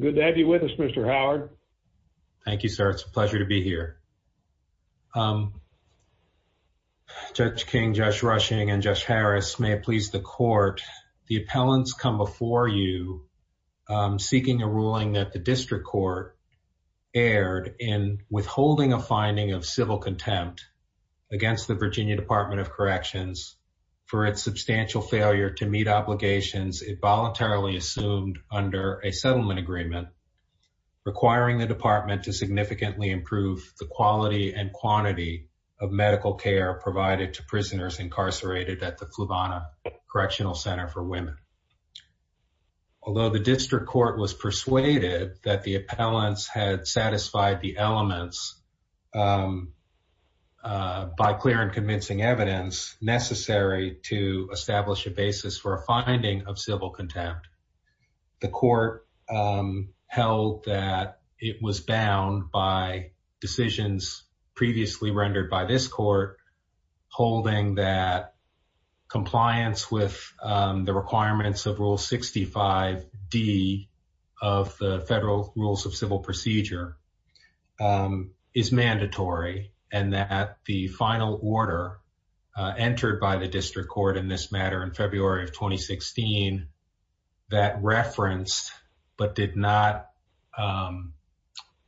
Good to have you with us, Mr. Howard. Thank you, sir. It's a pleasure to be here. Um, Judge King, Josh Rushing, and Josh Harris, may it please the court, the appellants come before you, um, seeking a ruling that the district court erred in withholding a finding of civil contempt against the Virginia Department of Corrections for its substantial failure to meet obligations it voluntarily assumed under a settlement agreement requiring the department to significantly improve the quality and quantity of medical care provided to prisoners incarcerated at the Flavana Correctional Center for Women. Although the district court was persuaded that the appellants had satisfied the elements, um, uh, by clear and convincing evidence necessary to the court, um, held that it was bound by decisions previously rendered by this court, holding that compliance with, um, the requirements of Rule 65D of the federal rules of civil procedure, um, is mandatory and that the final order, uh, that referenced, but did not, um,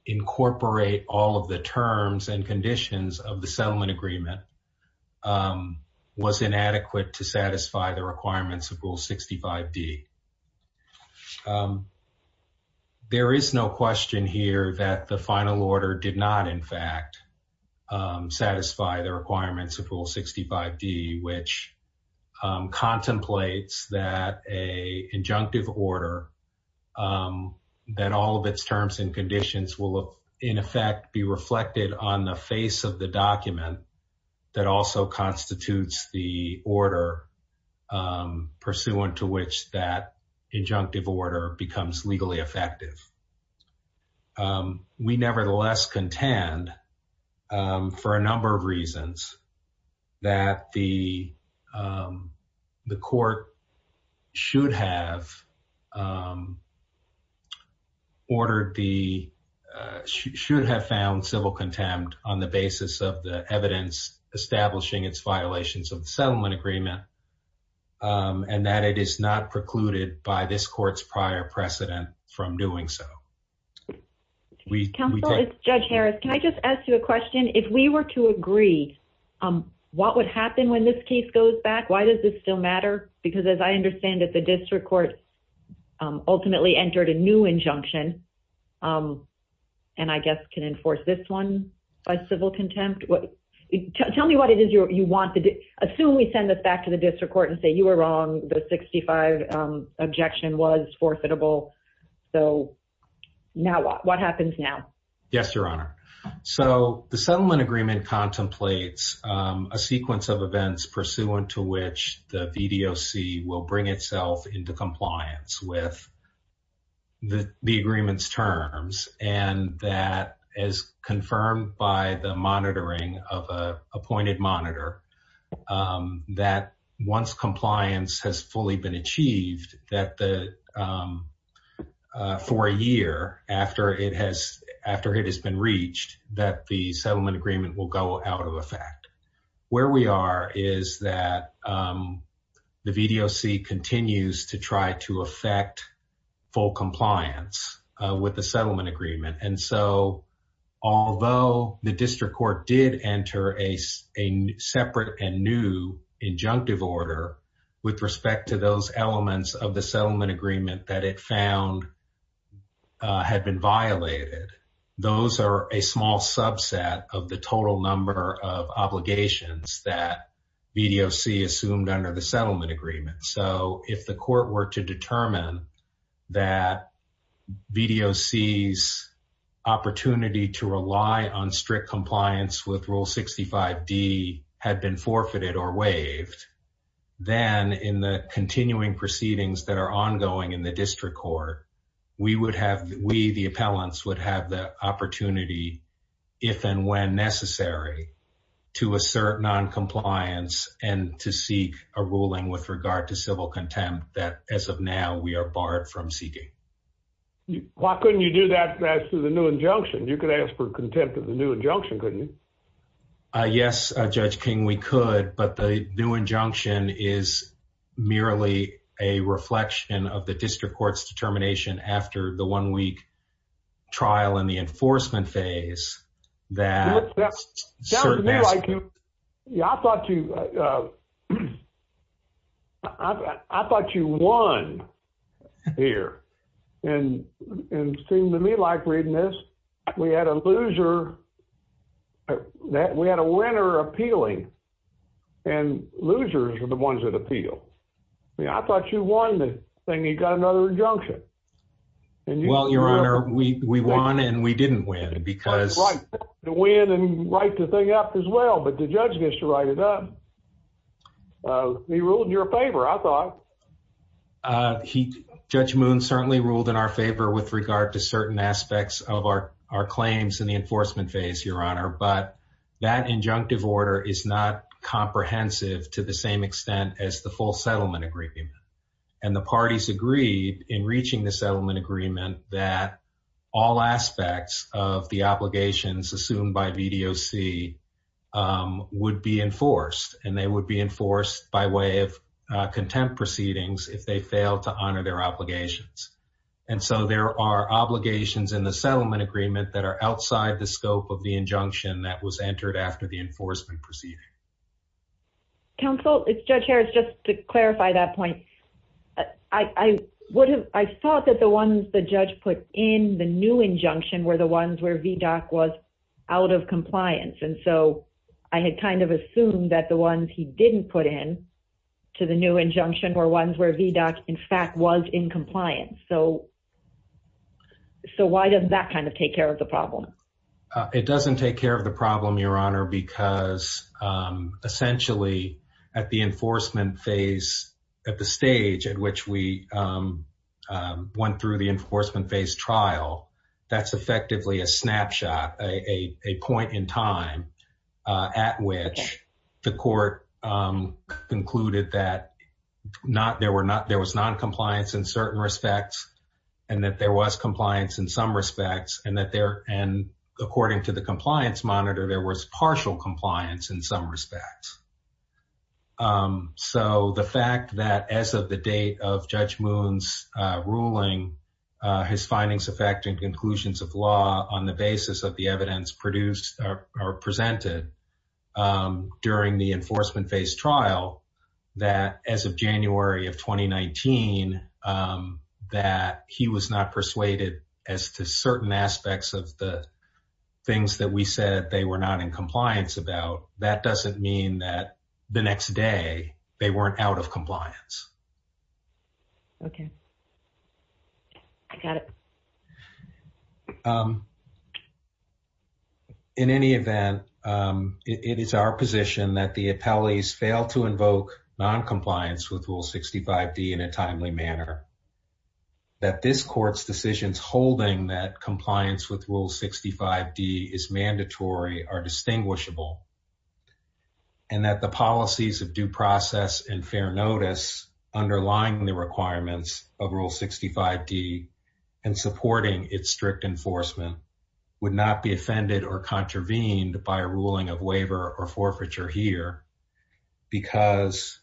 incorporate all of the terms and conditions of the settlement agreement, um, was inadequate to satisfy the requirements of Rule 65D, um, there is no question here that the final order did not, in fact, um, satisfy the requirements of Rule 65D, which, um, contemplates that a injunctive order, um, that all of its terms and conditions will, in effect, be reflected on the face of the document that also constitutes the order, um, pursuant to which that injunctive order becomes legally effective. Um, we nevertheless contend, um, for a number of reasons that the, um, the court should have, um, ordered the, uh, should have found civil contempt on the basis of the evidence establishing its violations of the settlement agreement, um, and that it is not precluded by this court's prior precedent from doing so. We, we- Counselor, it's Judge Harris. Can I just ask you a question? If we were to agree, um, what would happen when this case goes back? Why does this still matter? Because as I understand it, the district court, um, ultimately entered a new injunction, um, and I guess can enforce this one by civil contempt. What, tell me what it is you're, you want to do. Assume we send this back to the district court and say, you were wrong. The 65, um, objection was forfeitable. So now what, what happens now? Yes, Your Honor. So the settlement agreement contemplates, um, a sequence of events pursuant to which the VDOC will bring itself into compliance with the, the agreement's terms, and that as confirmed by the monitoring of a appointed monitor, um, that once compliance has fully been achieved, that the, um, uh, for a year after it has, after it has been reached, that the settlement agreement will go out of effect. Where we are is that, um, the VDOC continues to try to affect full compliance, uh, with the settlement agreement. And so although the district court did enter a separate and new injunctive order with respect to those elements of the settlement agreement that it found, uh, had been violated, those are a small subset of the total number of obligations that VDOC assumed under the settlement agreement. So if the court were to determine that VDOC's opportunity to rely on strict compliance with Rule 65D had been forfeited or waived, then in the future, we would have, we, the appellants would have the opportunity if and when necessary to assert noncompliance and to seek a ruling with regard to civil contempt that as of now we are barred from seeking. Why couldn't you do that as to the new injunction? You could ask for contempt of the new injunction, couldn't you? Uh, yes, Judge King, we could, but the new injunction is merely a reflection of the district court's determination after the one week trial in the enforcement phase that certain aspects... It sounds to me like you, yeah, I thought you, uh, I thought you won here. And it seemed to me like reading this, we had a loser, we had a winner appealing and losers are the ones that appeal. Yeah, I thought you won the thing. He got another injunction. And you... Well, Your Honor, we, we won and we didn't win because... Right, to win and write the thing up as well, but the judge gets to write it up. Uh, he ruled in your favor, I thought. Uh, he, Judge Moon certainly ruled in our favor with regard to certain aspects of our, our claims in the enforcement phase, Your Honor, but that injunctive order is not comprehensive to the same extent as the full settlement agreement. And the parties agreed in reaching the settlement agreement that all aspects of the obligations assumed by VDOC, um, would be enforced and they would be enforced by way of, uh, contempt proceedings if they fail to honor their obligations. And so there are obligations in the settlement agreement that are outside the scope of the injunction that was entered after the enforcement proceeding. Counsel, if Judge Harris, just to clarify that point, I, I would have, I thought that the ones the judge put in the new injunction were the ones where VDOC was out of compliance. And so I had kind of assumed that the ones he didn't put in to the new injunction were ones where VDOC in fact was in compliance. So, so why doesn't that kind of take care of the problem? It doesn't take care of the problem, Your Honor, because, um, essentially at the enforcement phase, at the stage at which we, um, um, went through the enforcement phase trial, that's effectively a snapshot, a, a, a point in time, uh, at which the court, um, concluded that not, there were not, there was noncompliance in certain respects and that there was compliance in some respects and that there, and according to the compliance monitor, there was partial compliance in some respects. Um, so the fact that as of the date of Judge Moon's, uh, ruling, uh, his findings affecting conclusions of law on the basis of the evidence produced or presented, um, during the enforcement phase trial, that as of January of 2019, um, that he was not persuaded as to certain aspects of the things that we said they were not in compliance about, that doesn't mean that the next day they weren't out of compliance. Okay. I got it. Um, in any event, um, it, it is our position that the appellees failed to comply with Rule 65D in a timely manner, that this court's decisions holding that compliance with Rule 65D is mandatory are distinguishable, and that the policies of due process and fair notice underlying the requirements of Rule 65D and supporting its strict enforcement would not be offended or contravened by a ruling of waiver or forfeiture here because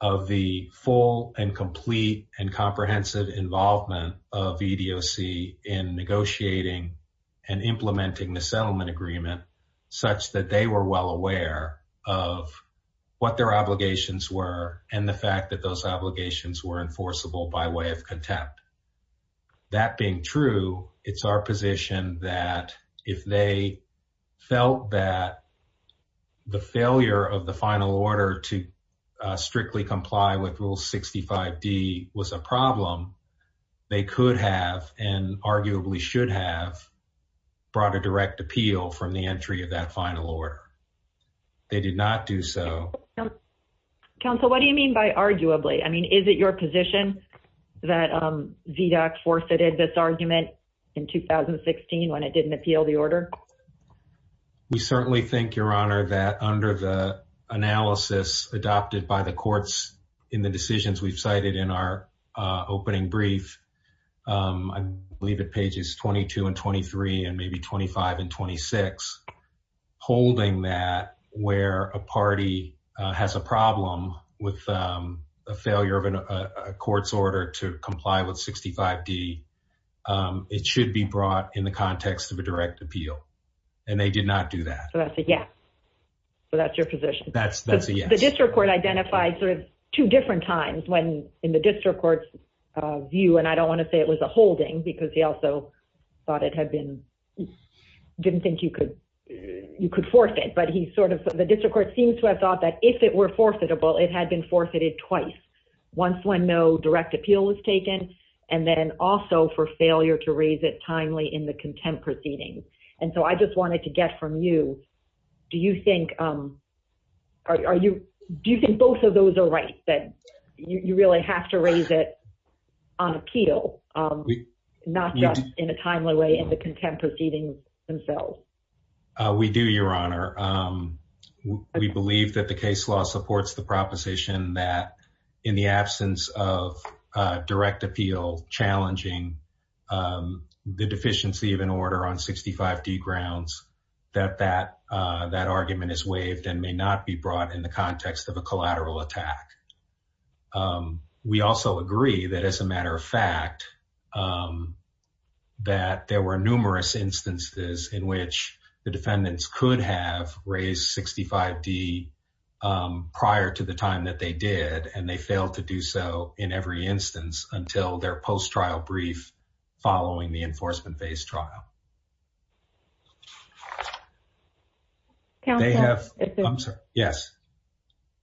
of the full and complete and comprehensive involvement of EDOC in negotiating and implementing the settlement agreement such that they were well aware of what their obligations were and the fact that those obligations were enforceable by way of contempt. That being true, it's our position that if they felt that the failure of the final order to strictly comply with Rule 65D was a problem, they could have, and arguably should have, brought a direct appeal from the entry of that final order. They did not do so. Counsel, what do you mean by arguably? I mean, is it your position that, um, EDOC forfeited this argument in 2016 when it didn't appeal the order? We certainly think, Your Honor, that under the analysis adopted by the courts in the decisions we've cited in our, uh, opening brief, um, I believe at pages 22 and 23 and maybe 25 and 26, holding that where a party, uh, has a problem with, um, a failure of a court's order to comply with 65D, um, it should be brought in the context of a direct appeal and they did not do that. So that's a yes. So that's your position. That's, that's a yes. The district court identified sort of two different times when in the district court's view, and I don't want to say it was a holding because he also thought it had been, didn't think you could, you could forfeit, but he sort of, the forfeitable, it had been forfeited twice. Once when no direct appeal was taken and then also for failure to raise it timely in the contempt proceedings. And so I just wanted to get from you. Do you think, um, are you, do you think both of those are rights that you really have to raise it on appeal, um, not just in a timely way in the contempt proceedings themselves? Uh, we do, Your Honor. Um, we believe that the case law supports the proposition that in the absence of a direct appeal challenging, um, the deficiency of an order on 65D grounds, that, that, uh, that argument is waived and may not be brought in the context of a collateral attack. Um, we also agree that as a matter of fact, um, that there were numerous instances in which the defendants could have raised 65D, um, prior to the time that they did, and they failed to do so in every instance until their post-trial brief following the enforcement phase trial. Counselor? They have, I'm sorry. Yes.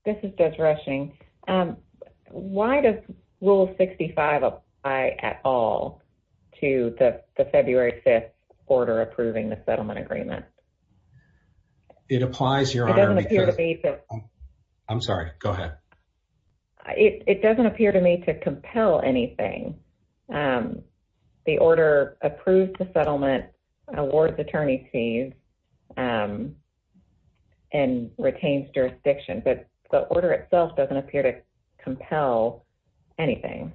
This is Beth Rushing. Um, why does rule 65 apply at all to the February 5th order approving the settlement agreement? It applies, Your Honor. I'm sorry, go ahead. It doesn't appear to me to compel anything. Um, the order approved the settlement, awards attorney fees, um, and doesn't appear to compel anything.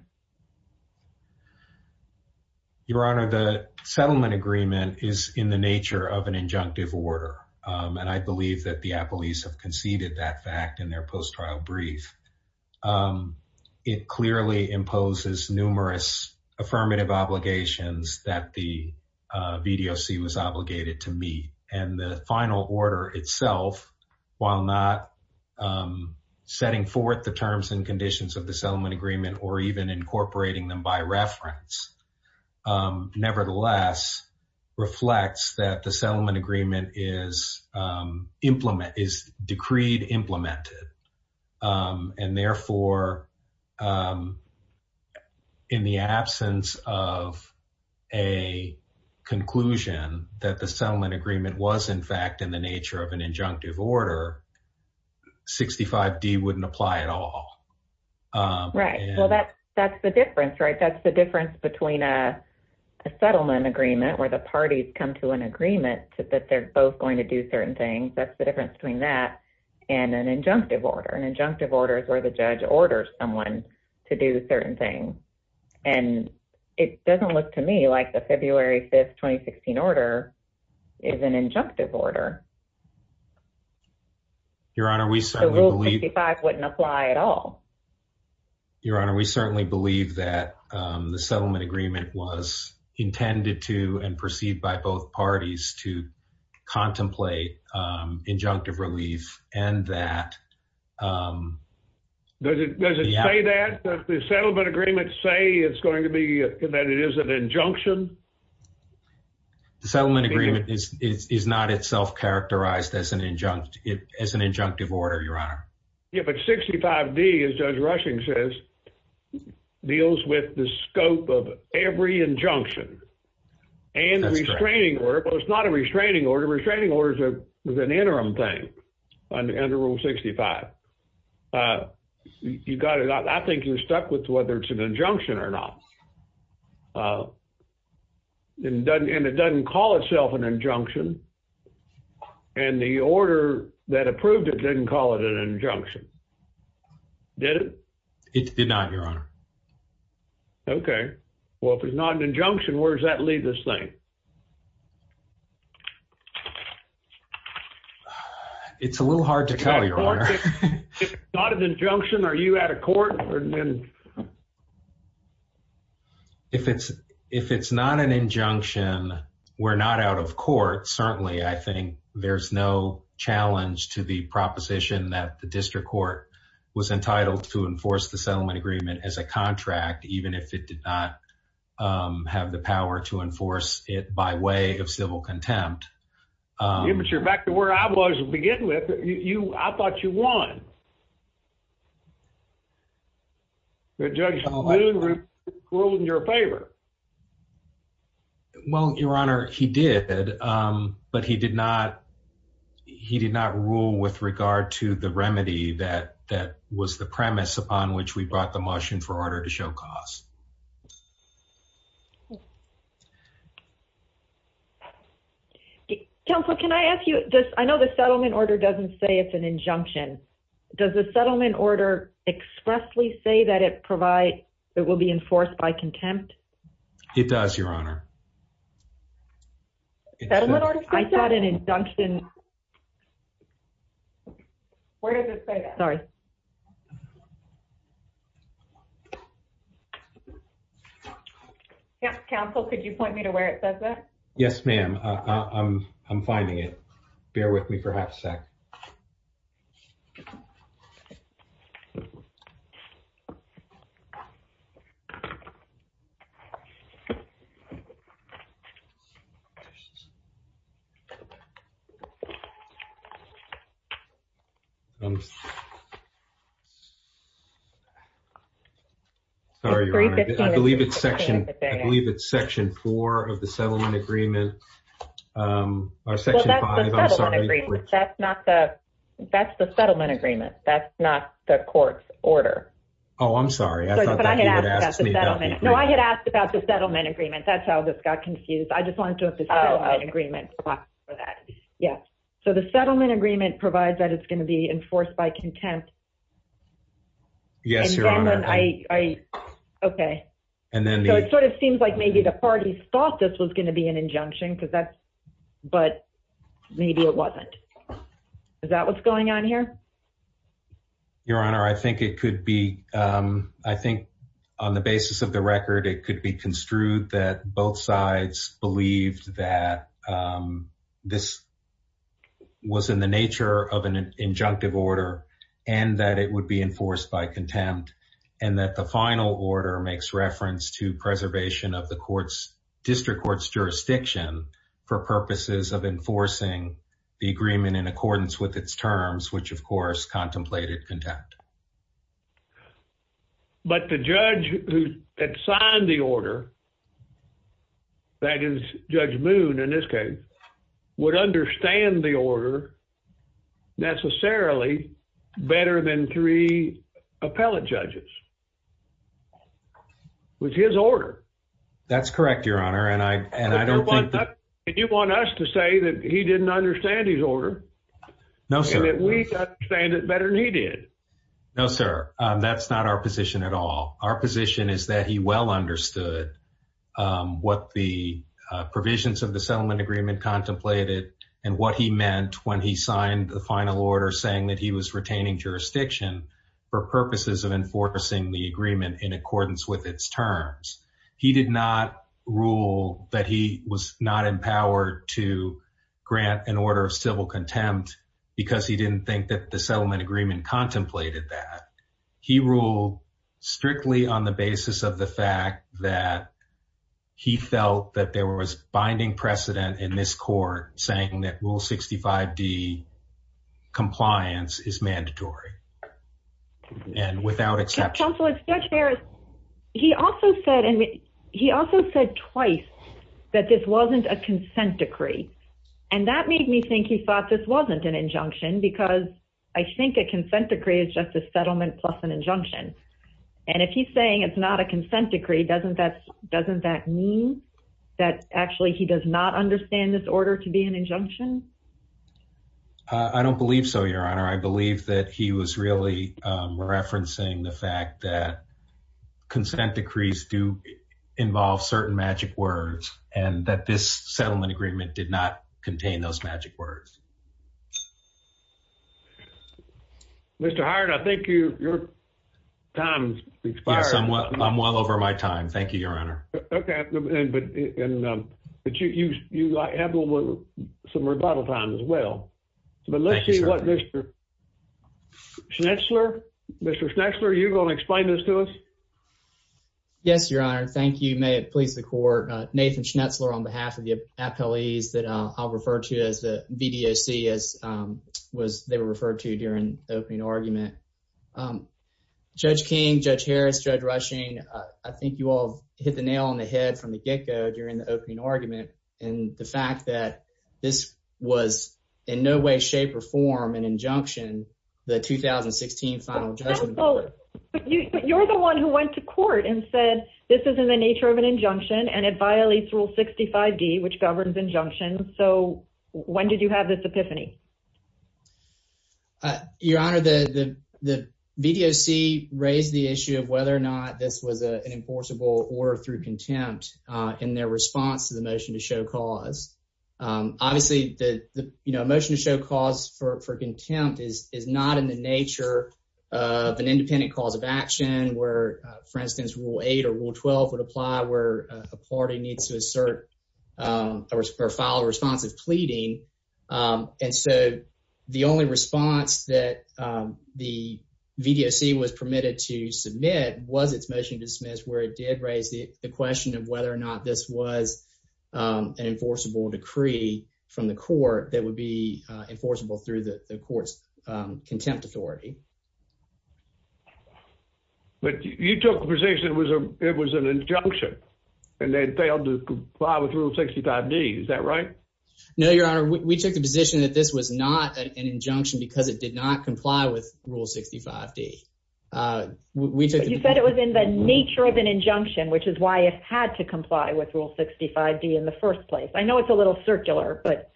Your Honor, the settlement agreement is in the nature of an injunctive order. Um, and I believe that the appellees have conceded that fact in their post-trial brief, um, it clearly imposes numerous affirmative obligations that the, uh, VDOC was obligated to meet and the final order itself, while not, um, setting forth the terms and conditions of the settlement agreement, or even incorporating them by reference, um, nevertheless reflects that the settlement agreement is, um, implement is decreed implemented. Um, and therefore, um, in the absence of a conclusion that the settlement agreement was in fact, in the nature of an injunctive order, 65D wouldn't apply at all, um, right? Well, that's, that's the difference, right? That's the difference between a settlement agreement where the parties come to an agreement that they're both going to do certain things. That's the difference between that and an injunctive order and injunctive orders where the judge orders someone to do certain things. And it doesn't look to me like the February 5th, 2016 order is an injunctive order. Your honor, we certainly believe that, um, the settlement agreement was intended to and perceived by both parties to contemplate, um, injunctive relief and that, um, does it, does it say that the settlement agreement say it's going to be that it is an injunction? The settlement agreement is, is, is not itself characterized as an injunct, as an injunctive order, your honor. Yeah, but 65D as Judge Rushing says, deals with the scope of every injunction and restraining order, but it's not a restraining order. A restraining order is a, is an interim thing under rule 65, uh, you got it. I think you're stuck with whether it's an injunction or not. Uh, and it doesn't, and it doesn't call itself an injunction and the order that approved it, didn't call it an injunction. Did it? It did not, your honor. Okay. Well, if it's not an injunction, where does that leave this thing? It's a little hard to tell your honor. If it's not an injunction, are you out of court? If it's, if it's not an injunction, we're not out of court. Certainly. I think there's no challenge to the proposition that the district court was entitled to enforce the settlement agreement as a contract, even if it did not, um, have the power to enforce it by way of civil contempt. Um, You mature back to where I was to begin with you. I thought you won. Well, your honor, he did, um, but he did not, he did not rule with regard to the remedy that, that was the premise upon which we brought the motion for order to show costs. Counselor, can I ask you this? I know the settlement order doesn't say it's an injunction. Does the settlement order say that it's an injunction? Does the settlement order expressly say that it provide, it will be enforced by contempt? It does your honor. Settlement order says that? I thought an injunction. Where does it say that? Sorry. Counsel, could you point me to where it says that? Yes, ma'am. Uh, I'm, I'm finding it. Bear with me for half a sec. Sorry, your honor, I believe it's section, I believe it's section four of the settlement agreement, um, or section five. I'm sorry. That's not the, that's the settlement agreement. That's not the court's order. Oh, I'm sorry. I thought that you had asked me about the settlement agreement. No, I had asked about the settlement agreement. That's how this got confused. I just wanted to have the settlement agreement for that. Yeah. So the settlement agreement provides that it's going to be enforced by contempt. Yes, your honor. I, I, okay. And then it sort of seems like maybe the parties thought this was going to be an injunction because that's, but maybe it wasn't. Is that what's going on here? Your honor, I think it could be, um, I think on the basis of the record, it could be construed that both sides believed that, um, this was in the nature of an injunctive order and that it would be enforced by contempt and that the final order makes reference to preservation of the court's, district court's jurisdiction for purposes of enforcing the agreement in accordance with its terms, which of course contemplated contempt. But the judge who had signed the order, that is Judge Moon in this case, would understand the order necessarily better than three appellate judges. Which is his order. That's correct, your honor. And I, and I don't think that. And you want us to say that he didn't understand his order? No, sir. And that we understand it better than he did. No, sir. Um, that's not our position at all. Our position is that he well understood, um, what the, uh, provisions of the settlement agreement contemplated and what he meant when he signed the final order saying that he was retaining jurisdiction for purposes of enforcing the agreement in accordance with its terms. He did not rule that he was not empowered to grant an order of civil contempt because he didn't think that the settlement agreement contemplated that. He ruled strictly on the basis of the fact that he felt that there was binding precedent in this court saying that Rule 65D compliance is mandatory and without exception. Counselor Judge Harris, he also said, and he also said twice that this wasn't a consent decree. And that made me think he thought this wasn't an injunction because I think a consent decree is just a settlement plus an injunction. And if he's saying it's not a consent decree, doesn't that, doesn't that mean that actually he does not understand this order to be an injunction? Uh, I don't believe so, your honor. I believe that he was really, um, referencing the fact that consent decrees do involve certain magic words and that this settlement agreement did not contain those magic words. Mr. Hired. I think you, your time's expired. I'm well over my time. Thank you, your honor. Okay. But, and, um, but you, you, you have some rebuttal time as well, but let's see what Mr. Schnetzler, Mr. Schnetzler, are you going to explain this to us? Yes, your honor. Thank you. May it please the court. Uh, Nathan Schnetzler on behalf of the appellees that, uh, I'll refer to as the VDOC as, um, was they were referred to during the opening argument. Um, Judge King, Judge Harris, Judge Rushing. Uh, I think you all hit the nail on the head from the get-go during the opening argument and the fact that this was in no way, shape or form an injunction, the 2016 final judgment. But you, you're the one who went to court and said, this isn't the nature of an injunction and it violates rule 65 D, which governs injunction. So when did you have this epiphany? Uh, your honor, the, the, the VDOC raised the issue of whether or not this was an enforceable or through contempt, uh, in their response to the motion to show cause, um, obviously the, the, you know, motion to show cause for contempt is, is not in the nature of an independent cause of action where, uh, for instance, rule eight or rule 12 would apply where a party needs to assert, um, or file a response of pleading. Um, and so the only response that, um, the VDOC was permitted to submit was it's motion to dismiss where it did raise the question of whether or not this was, um, an enforceable decree from the court that would be, uh, enforceable through the court's, um, contempt authority. But you took the position it was a, it was an injunction and they'd failed to comply with rule 65 D. Is that right? No, your honor. We took the position that this was not an injunction because it did not comply with rule 65 D. Uh, we took the- The nature of an injunction, which is why it had to comply with rule 65 D in the first place. I know it's a little circular, but-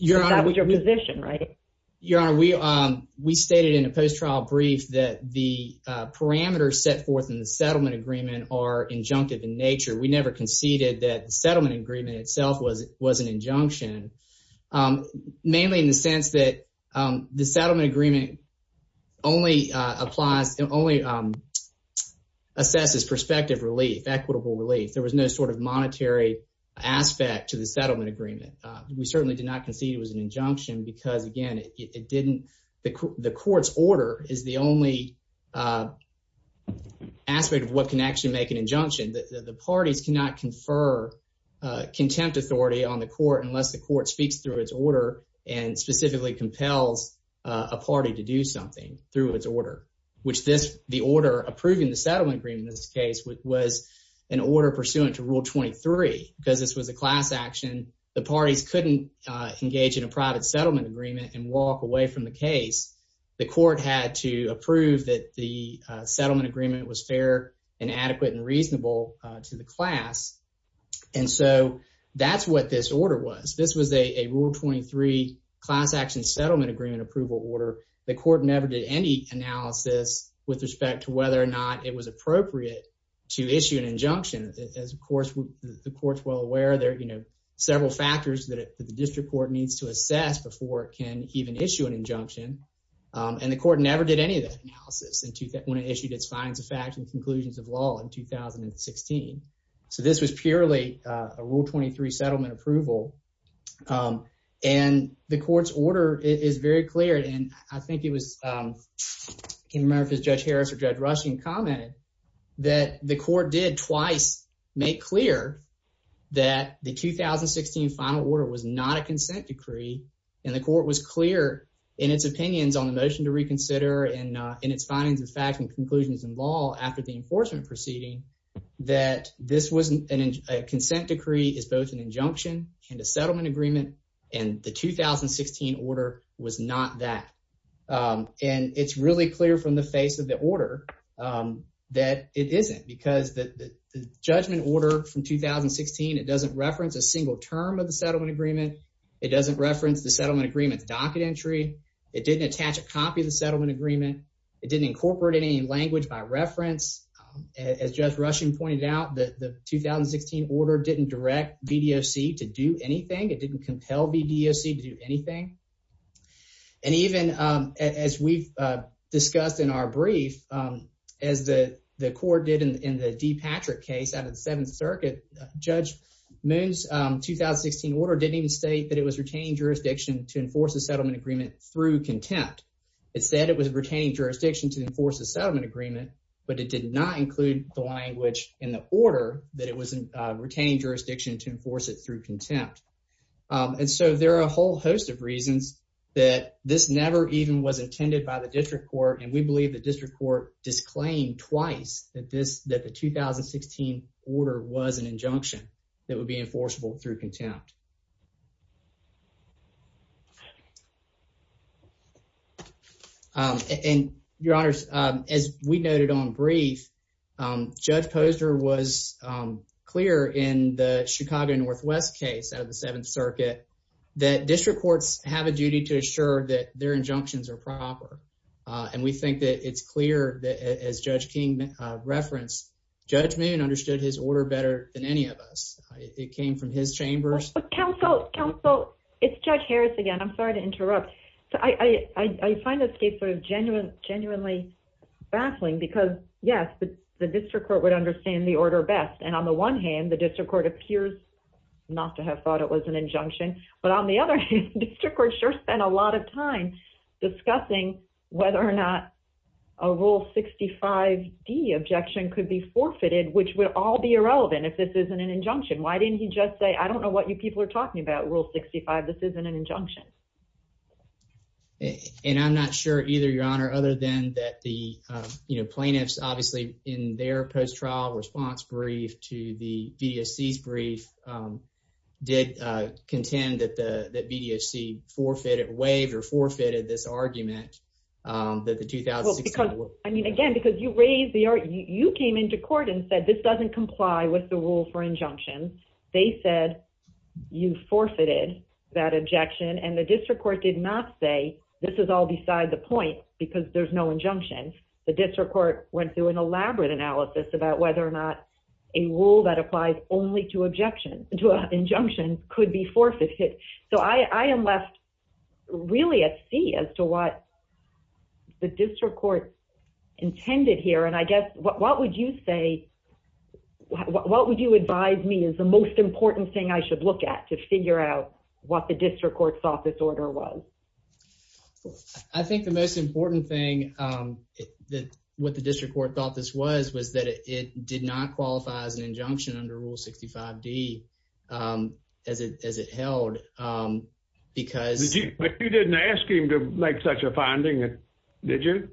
Your honor, we, um, we stated in a post-trial brief that the, uh, parameters set forth in the settlement agreement are injunctive in nature. We never conceded that the settlement agreement itself was, was an injunction. Um, mainly in the sense that, um, the settlement agreement only, uh, applies and only, um, assesses perspective relief, equitable relief. There was no sort of monetary aspect to the settlement agreement. Uh, we certainly did not concede it was an injunction because again, it, it didn't, the, the court's order is the only, uh, aspect of what can actually make an injunction. The, the parties cannot confer, uh, contempt authority on the court unless the court speaks through its order and specifically compels, uh, a party to do something through its order. Which this, the order approving the settlement agreement in this case, which was an order pursuant to rule 23, because this was a class action. The parties couldn't, uh, engage in a private settlement agreement and walk away from the case. The court had to approve that the, uh, settlement agreement was fair and adequate and reasonable, uh, to the class. And so that's what this order was. This was a, a rule 23 class action settlement agreement approval order. The court never did any analysis with respect to whether or not it was appropriate to issue an injunction. As of course, the court's well aware there are, you know, several factors that the district court needs to assess before it can even issue an injunction. Um, and the court never did any of that analysis when it issued its findings of facts and conclusions of law in 2016. So this was purely, uh, a rule 23 settlement approval. Um, and the court's order is very clear. And I think it was, um, I can't remember if it was Judge Harris or Judge Rushing commented that the court did twice make clear that the 2016 final order was not a consent decree. And the court was clear in its opinions on the motion to reconsider and, uh, in its findings of facts and conclusions in law after the enforcement proceeding that this wasn't an, a consent decree is both an injunction and a settlement agreement, and the 2016 order was not that. Um, and it's really clear from the face of the order, um, that it isn't because the, the judgment order from 2016, it doesn't reference a single term of the settlement agreement. It doesn't reference the settlement agreement's docket entry. It didn't attach a copy of the settlement agreement. It didn't incorporate any language by reference, um, as Judge Rushing pointed out, that the 2016 order didn't direct BDOC to do anything. It didn't compel BDOC to do anything. And even, um, as we've, uh, discussed in our brief, um, as the court did in the D. Patrick case out of the seventh circuit, Judge Moon's, um, 2016 order didn't even state that it was retaining jurisdiction to enforce the settlement agreement through contempt. It said it was retaining jurisdiction to enforce the settlement agreement, but it did not include the language in the order that it was, uh, retaining jurisdiction to enforce it through contempt. Um, and so there are a whole host of reasons that this never even was intended by the district court, and we believe the district court disclaimed twice that this, that the 2016 order was an injunction that would be enforceable through contempt. Um, and your honors, as we noted on brief, um, Judge Posner was, um, clear in the Chicago Northwest case out of the seventh circuit that district courts have a duty to assure that their injunctions are proper. Uh, and we think that it's clear that as Judge King referenced, Judge Moon understood his order better than any of us. It came from his chambers. But counsel, counsel, it's Judge Harris again. I'm sorry to interrupt. So I, I, I find this case sort of genuine, genuinely baffling because yes, the district court would understand the order best. And on the one hand, the district court appears not to have thought it was an injunction. But on the other hand, district court sure spent a lot of time discussing whether or not a rule 65 D objection could be forfeited, which would all be irrelevant if this isn't an injunction. Why didn't he just say, I don't know what you people are talking about rule 65, this isn't an injunction. And I'm not sure either, your honor, other than that, the, uh, you know, plaintiffs obviously in their post-trial response brief to the VDSC's brief, um, did, uh, contend that the, that VDSC forfeited, waived or forfeited this argument, um, that the 2016. I mean, again, because you raised the art, you came into court and said this doesn't comply with the rule for injunction. They said you forfeited that objection and the district court did not say this is all beside the point because there's no injunction, the district court went through an elaborate analysis about whether or not a rule that applies only to objection to an injunction could be forfeited. So I am left really at sea as to what the district court intended here. And I guess, what, what would you say, what would you advise me is the most important thing I should look at to figure out what the district court's office order was? I think the most important thing, um, that what the district court thought this was, was that it did not qualify as an injunction under rule 65 D, um, as it, as it held, um, because... But you didn't ask him to make such a finding, did you?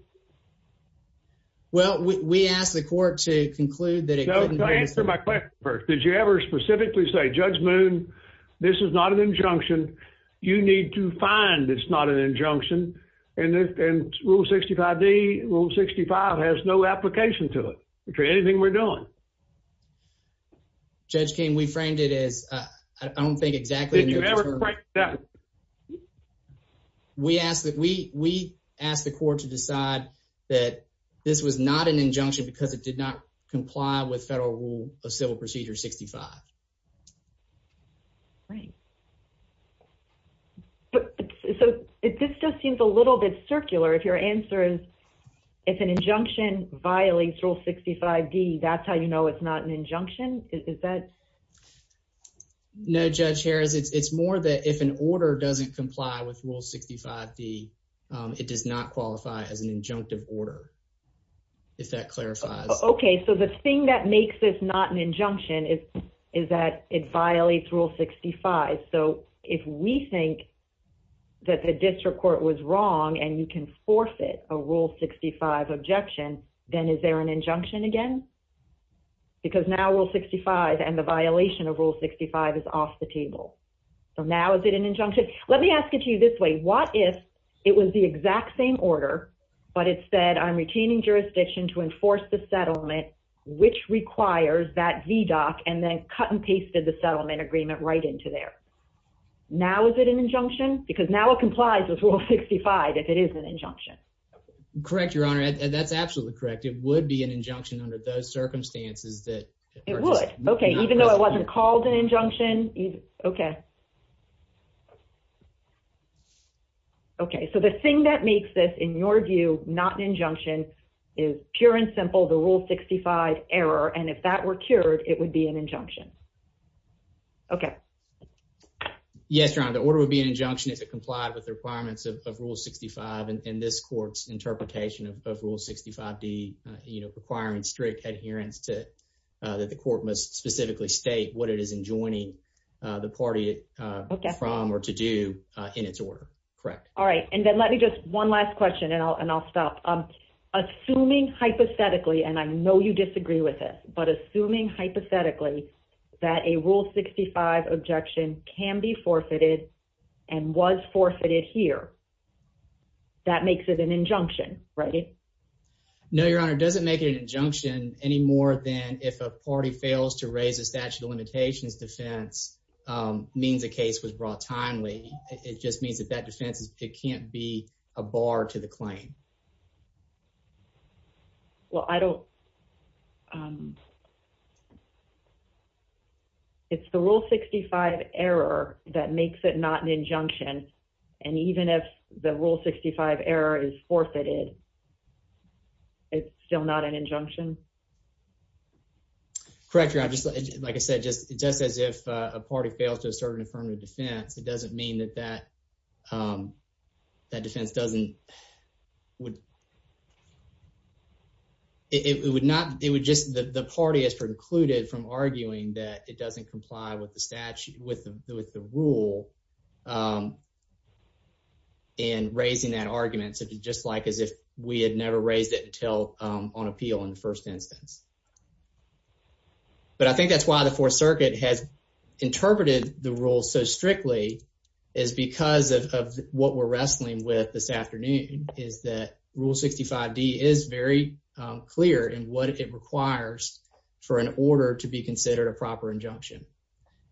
Well, we, we asked the court to conclude that it couldn't... No, answer my question first, did you ever specifically say, Judge Moon, this is not an injunction, you need to find it's not an injunction, and, and rule 65 D, rule 65 has no application to it, to anything we're doing. Judge King, we framed it as, uh, I don't think exactly... Did you ever... We asked that, we, we asked the court to decide that this was not an injunction because it did not comply with federal rule of civil procedure 65. Right. But, so this just seems a little bit circular. If your answer is, if an injunction violates rule 65 D, that's how you know it's not an injunction, is that... No, Judge Harris, it's, it's more that if an order doesn't comply with rule 65 D, um, it does not qualify as an injunctive order, if that clarifies. Okay. So the thing that makes this not an injunction is, is that it violates rule 65. So if we think that the district court was wrong and you can forfeit a rule 65 objection, then is there an injunction again? Because now rule 65 and the violation of rule 65 is off the table. So now is it an injunction? Let me ask it to you this way. What if it was the exact same order, but it said I'm retaining jurisdiction to enforce the settlement, which requires that VDOC and then cut and pasted the settlement agreement right into there. Now, is it an injunction? Because now it complies with rule 65, if it is an injunction. Correct, Your Honor. And that's absolutely correct. It would be an injunction under those circumstances that it would. Okay. Even though it wasn't called an injunction. Okay. Okay. So the thing that makes this in your view, not an injunction is pure and simple, the rule 65 error. And if that were cured, it would be an injunction. Okay. Yes, Your Honor. The order would be an injunction if it complied with the requirements of rule 65 and this court's interpretation of rule 65 D, you know, requiring strict adherence to that the court must specifically state what it is enjoining the party from or to do in its order. Correct. All right. And then let me just one last question and I'll, and I'll stop. Assuming hypothetically, and I know you disagree with it, but assuming hypothetically that a rule 65 objection can be forfeited and was forfeited here, that makes it an injunction, right? No, Your Honor. It doesn't make it an injunction any more than if a party fails to raise a statute of limitations defense, um, means a case was brought timely. It just means that that defense is, it can't be a bar to the claim. Well, I don't, um, it's the rule 65 error that makes it not an injunction. And even if the rule 65 error is forfeited, it's still not an injunction. Correct, Your Honor. Just like I said, just, just as if a party fails to assert an affirmative defense, it doesn't mean that that, um, that defense doesn't, would, it would not, it would just, the party has precluded from arguing that it doesn't comply with the statute, with the, with the rule, um, and raising that argument, just like as if we had never raised it until, um, on appeal in the first instance, but I think that's why the fourth circuit has interpreted the rule so strictly is because of what we're wrestling with this afternoon is that rule 65 D is very clear in what it requires for an order to be considered a proper injunction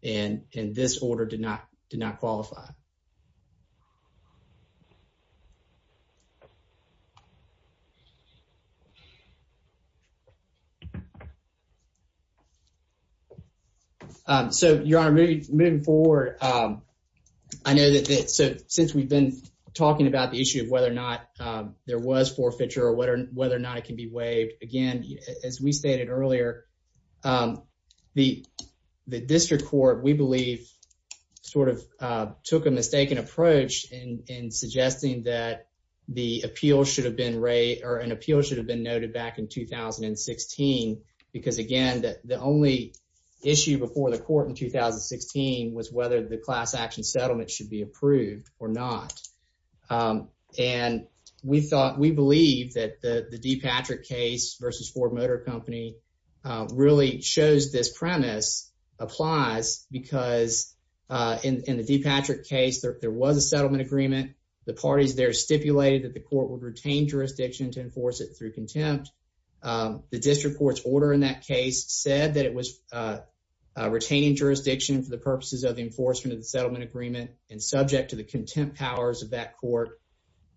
and, and this order did not, did not qualify. Um, so Your Honor, moving forward, um, I know that, so since we've been talking about the issue of whether or not, um, there was forfeiture or whether or not it can be waived again, as we stated earlier, um, the, the district court, we believe sort of, uh, took a mistaken approach in, in suggesting that the appeal should have been rate or an appeal should have been noted back in 2016 because again, that the only issue before the court in 2016 was whether the class action settlement should be approved or not. Um, and we thought we believe that the D. Patrick case versus Ford Motor Company, uh, really shows this premise applies because, uh, in, in the D. Patrick case, there was a settlement agreement. The parties there stipulated that the court would retain jurisdiction to enforce it through contempt. Um, the district court's order in that case said that it was, uh, retaining jurisdiction for the purposes of the enforcement of the settlement agreement and subject to the contempt powers of that court.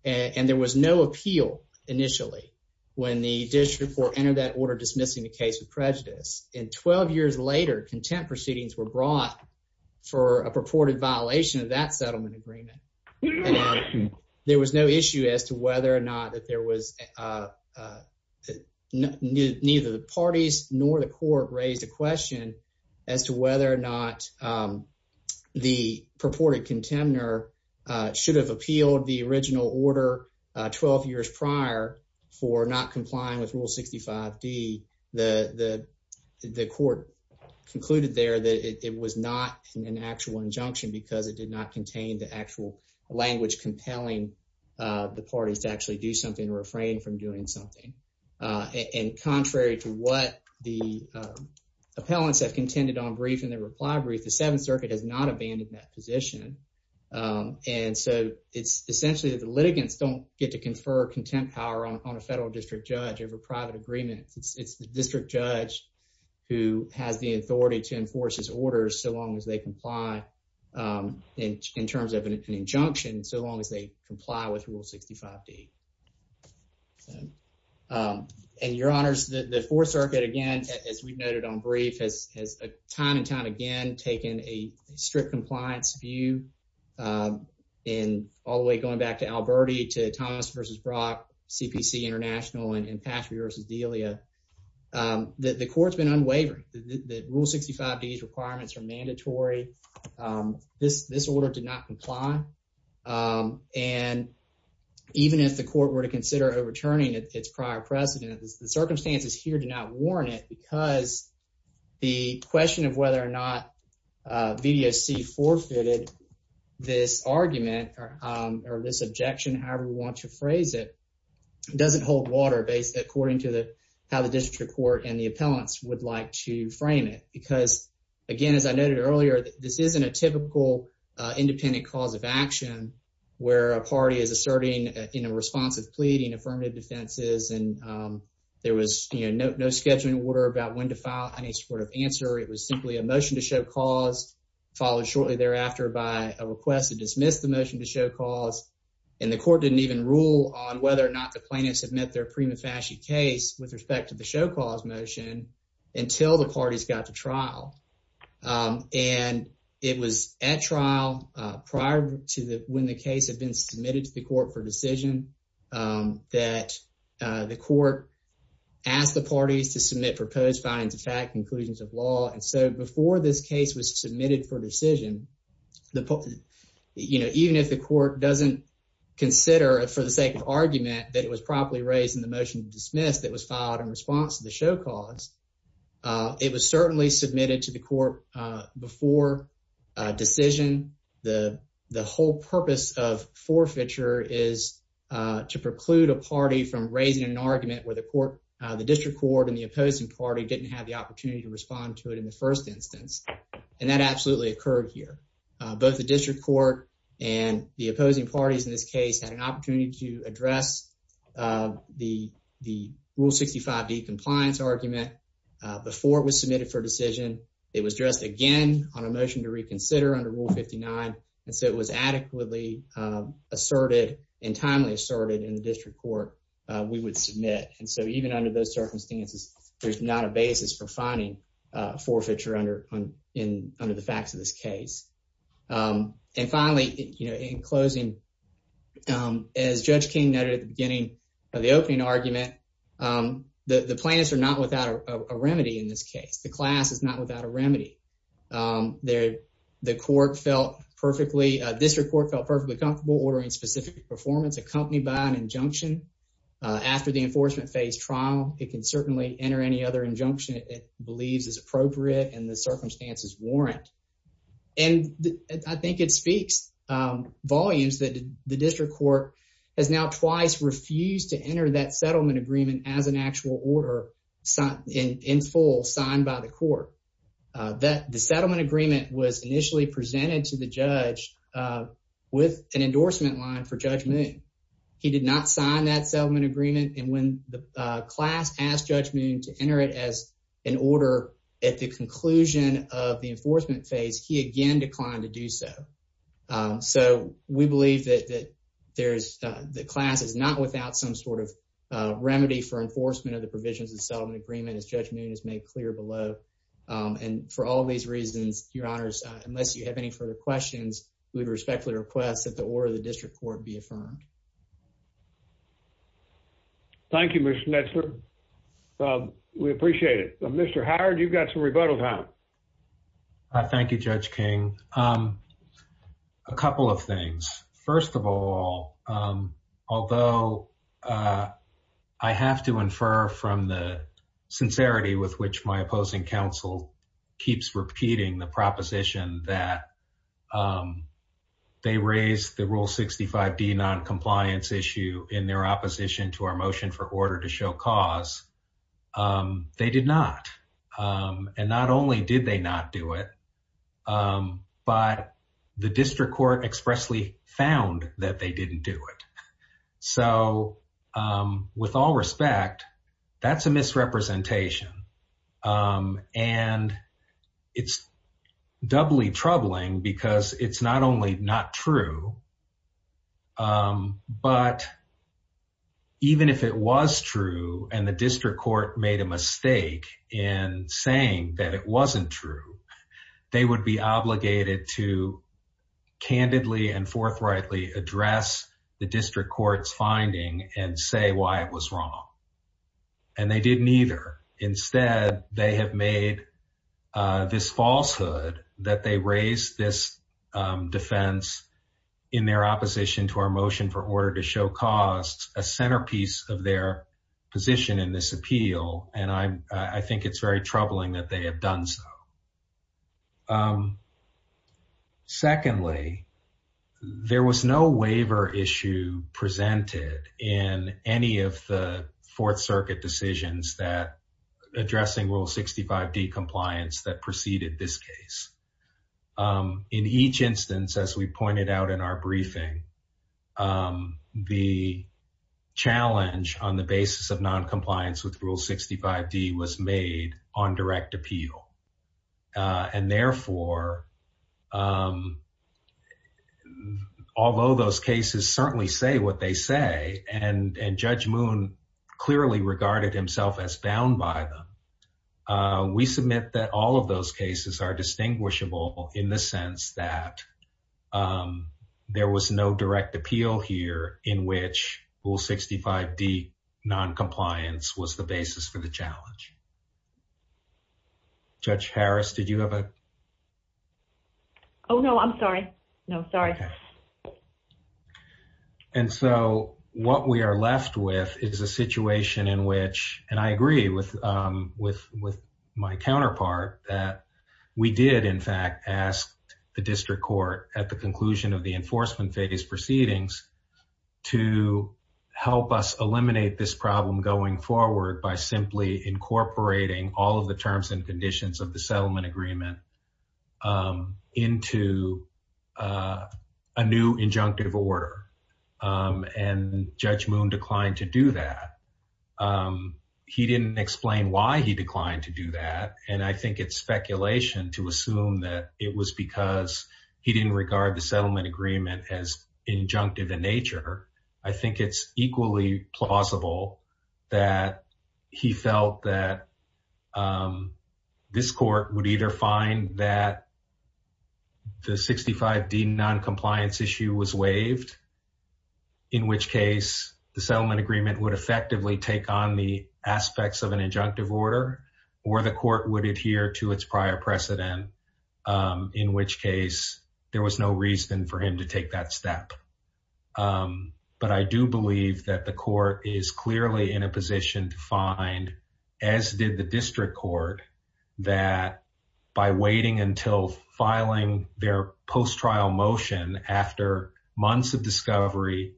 And there was no appeal initially when the district court entered that order dismissing the case of prejudice. And 12 years later, contempt proceedings were brought for a purported violation of that settlement agreement. There was no issue as to whether or not that there was, uh, uh, neither the parties nor the court raised a question as to whether or not, um, the purported contender should have appealed the original order 12 years prior for not complying with Rule 65 D. The court concluded there that it was not an actual injunction because it did not contain the actual language compelling the parties to actually do something to refrain from doing something. Uh, and contrary to what the, uh, appellants have contended on brief in the reply brief, the Seventh Circuit has not abandoned that position. Um, and so it's essentially that the litigants don't get to confer contempt power on a federal district judge over private agreements. It's the district judge who has the authority to enforce his orders so long as they comply, um, in terms of an injunction so long as they comply with Rule 65 D. Um, and your honors, the Fourth Circuit again, as we've noted on brief has has a time and time again taken a strict compliance view, uh, in all the way going back to Alberti to Thomas versus Brock CPC International and in past reverses Delia. Um, the court's been unwavering. The Rule 65 D's requirements are mandatory. Um, this this order did not comply. Um, and even if the court were to consider overturning its prior precedent, the circumstances here do not warn it because the question of whether or not video C forfeited this argument or this objection. However, we want to phrase it doesn't hold water based according to the how the district court and the again, as I noted earlier, this isn't a typical independent cause of action where a party is asserting in a responsive pleading affirmative defenses. And, um, there was no scheduling order about when to file any sort of answer. It was simply a motion to show cause, followed shortly thereafter by a request to dismiss the motion to show cause, and the court didn't even rule on whether or not the plaintiffs have met their prima facie case with respect to the show cause motion until the party's got to trial. Um, and it was at trial prior to the when the case had been submitted to the court for decision. Um, that the court asked the parties to submit proposed findings of fact conclusions of law. And so before this case was submitted for decision, the, you know, even if the court doesn't consider for the sake of argument that it was properly raised in the motion dismissed that was filed in response to the show cause. Uh, it was certainly submitted to the court before decision. The whole purpose of forfeiture is to preclude a party from raising an argument where the court, the district court and the opposing party didn't have the opportunity to respond to it in the first instance, and that absolutely occurred here. Both the district court and the opposing parties in this case had an opportunity to address, uh, the rule 65 D compliance argument before it was submitted for decision. It was just again on a motion to reconsider under Rule 59. And so it was adequately asserted and timely asserted in the district court we would submit. And so even under those circumstances, there's not a basis for finding forfeiture under in under the facts of this case. Um, and finally, you know, in closing, um, as Judge King noted at the beginning of the opening argument, um, the planets are not without a remedy. In this case, the class is not without a remedy. Um, there the court felt perfectly. This report felt perfectly comfortable ordering specific performance accompanied by an injunction. After the enforcement phase trial, it can certainly enter any other injunction believes is appropriate and the circumstances warrant. And I think it speaks volumes that the district court has now twice refused to enter that settlement agreement as an actual order in full signed by the court that the settlement agreement was initially presented to the judge with an endorsement line for Judge Moon. He did not sign that settlement agreement. And when the class asked Judge Moon to enter it as an order at the conclusion of the enforcement phase, he again declined to do so. Eso we believe that there's the class is not without some sort of remedy for enforcement of the provisions of settlement agreement. His judgment is made clear below on for all these reasons. Your honors, unless you have any further questions, we respectfully request that the order of the district court be affirmed. Thank you, Mr Nestor. Um, we appreciate it. Mr Howard, you've got some rebuttal time. Thank you, Judge King. Um, a couple of things. First of all, although, uh, I have to infer from the sincerity with which my opposing counsel keeps repeating the proposition that, um, they raised the rule 65 D noncompliance issue in their opposition to our motion for order to show cause, um, they did not. Um, and not only did they not do it, um, but the district court expressly found that they didn't do it. So, um, with all respect, that's a misrepresentation. Um, and it's doubly troubling because it's not only not true, um, but even if it was true and the district court made a mistake in saying that it wasn't true, they would be obligated to candidly and forthrightly address the district court's finding and say why it was wrong. And they didn't either. Instead, they have made, uh, this falsehood that they raised this, um, defense in their opposition to our motion for order to show cause a centerpiece of their position in this appeal. And I'm, I think it's very troubling that they have done so. Um, secondly, there was no waiver issue presented in any of the fourth circuit decisions that addressing Rule 65D compliance that preceded this case. Um, in each instance, as we pointed out in our briefing, um, the challenge on the basis of noncompliance with Rule 65D was made on direct appeal. Uh, and therefore, um, although those cases certainly say what they say and, and Judge Moon clearly regarded himself as bound by them, uh, we submit that all of those cases are distinguishable in the sense that, um, there was no direct appeal here in which Rule 65D noncompliance was the basis for the challenge. Judge Harris, did you have a... Oh, no, I'm sorry. No, sorry. Okay. And so what we are left with is a situation in which, and I agree with, um, with, with my counterpart, that we did in fact ask the district court at the conclusion of the enforcement phase proceedings to help us eliminate this problem going forward by simply incorporating all of the terms and a new injunctive order. Um, and Judge Moon declined to do that. Um, he didn't explain why he declined to do that. And I think it's speculation to assume that it was because he didn't regard the settlement agreement as injunctive in nature. I think it's equally plausible that he felt that, um, this court would either find that the 65D noncompliance issue was waived, in which case the settlement agreement would effectively take on the aspects of an injunctive order, or the court would adhere to its prior precedent, um, in which case there was no reason for him to take that step. Um, but I do believe that the court is by waiting until filing their post trial motion after months of discovery,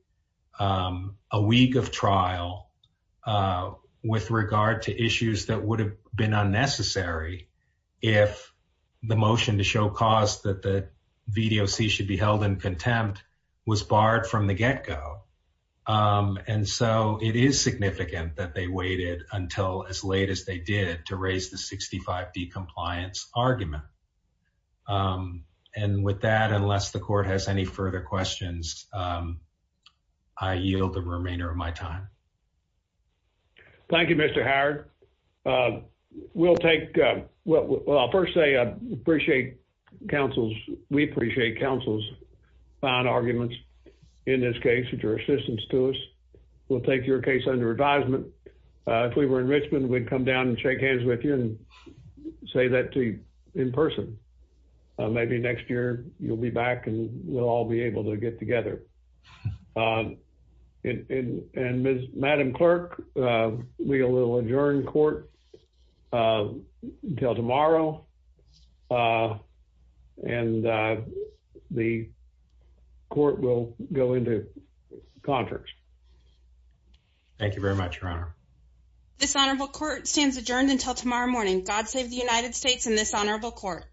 um, a week of trial, uh, with regard to issues that would have been unnecessary if the motion to show cause that the VDOC should be held in contempt was barred from the get go. Um, and so it is significant that they waited until as the 65D compliance argument. Um, and with that, unless the court has any further questions, um, I yield the remainder of my time. Thank you, Mr. Howard. Um, we'll take, uh, well, I'll first say, uh, appreciate counsel's, we appreciate counsel's fine arguments in this case, and your assistance to us. We'll take your case under advisement. Uh, if we were in you and say that to you in person, maybe next year you'll be back and we'll all be able to get together. Um, and and Miss Madam Clerk, uh, we will adjourn court, uh, until tomorrow. Uh, and, uh, the court will go into contracts. Thank you very much, Your Honor. This honorable court stands adjourned until tomorrow morning. God save the United States in this honorable court.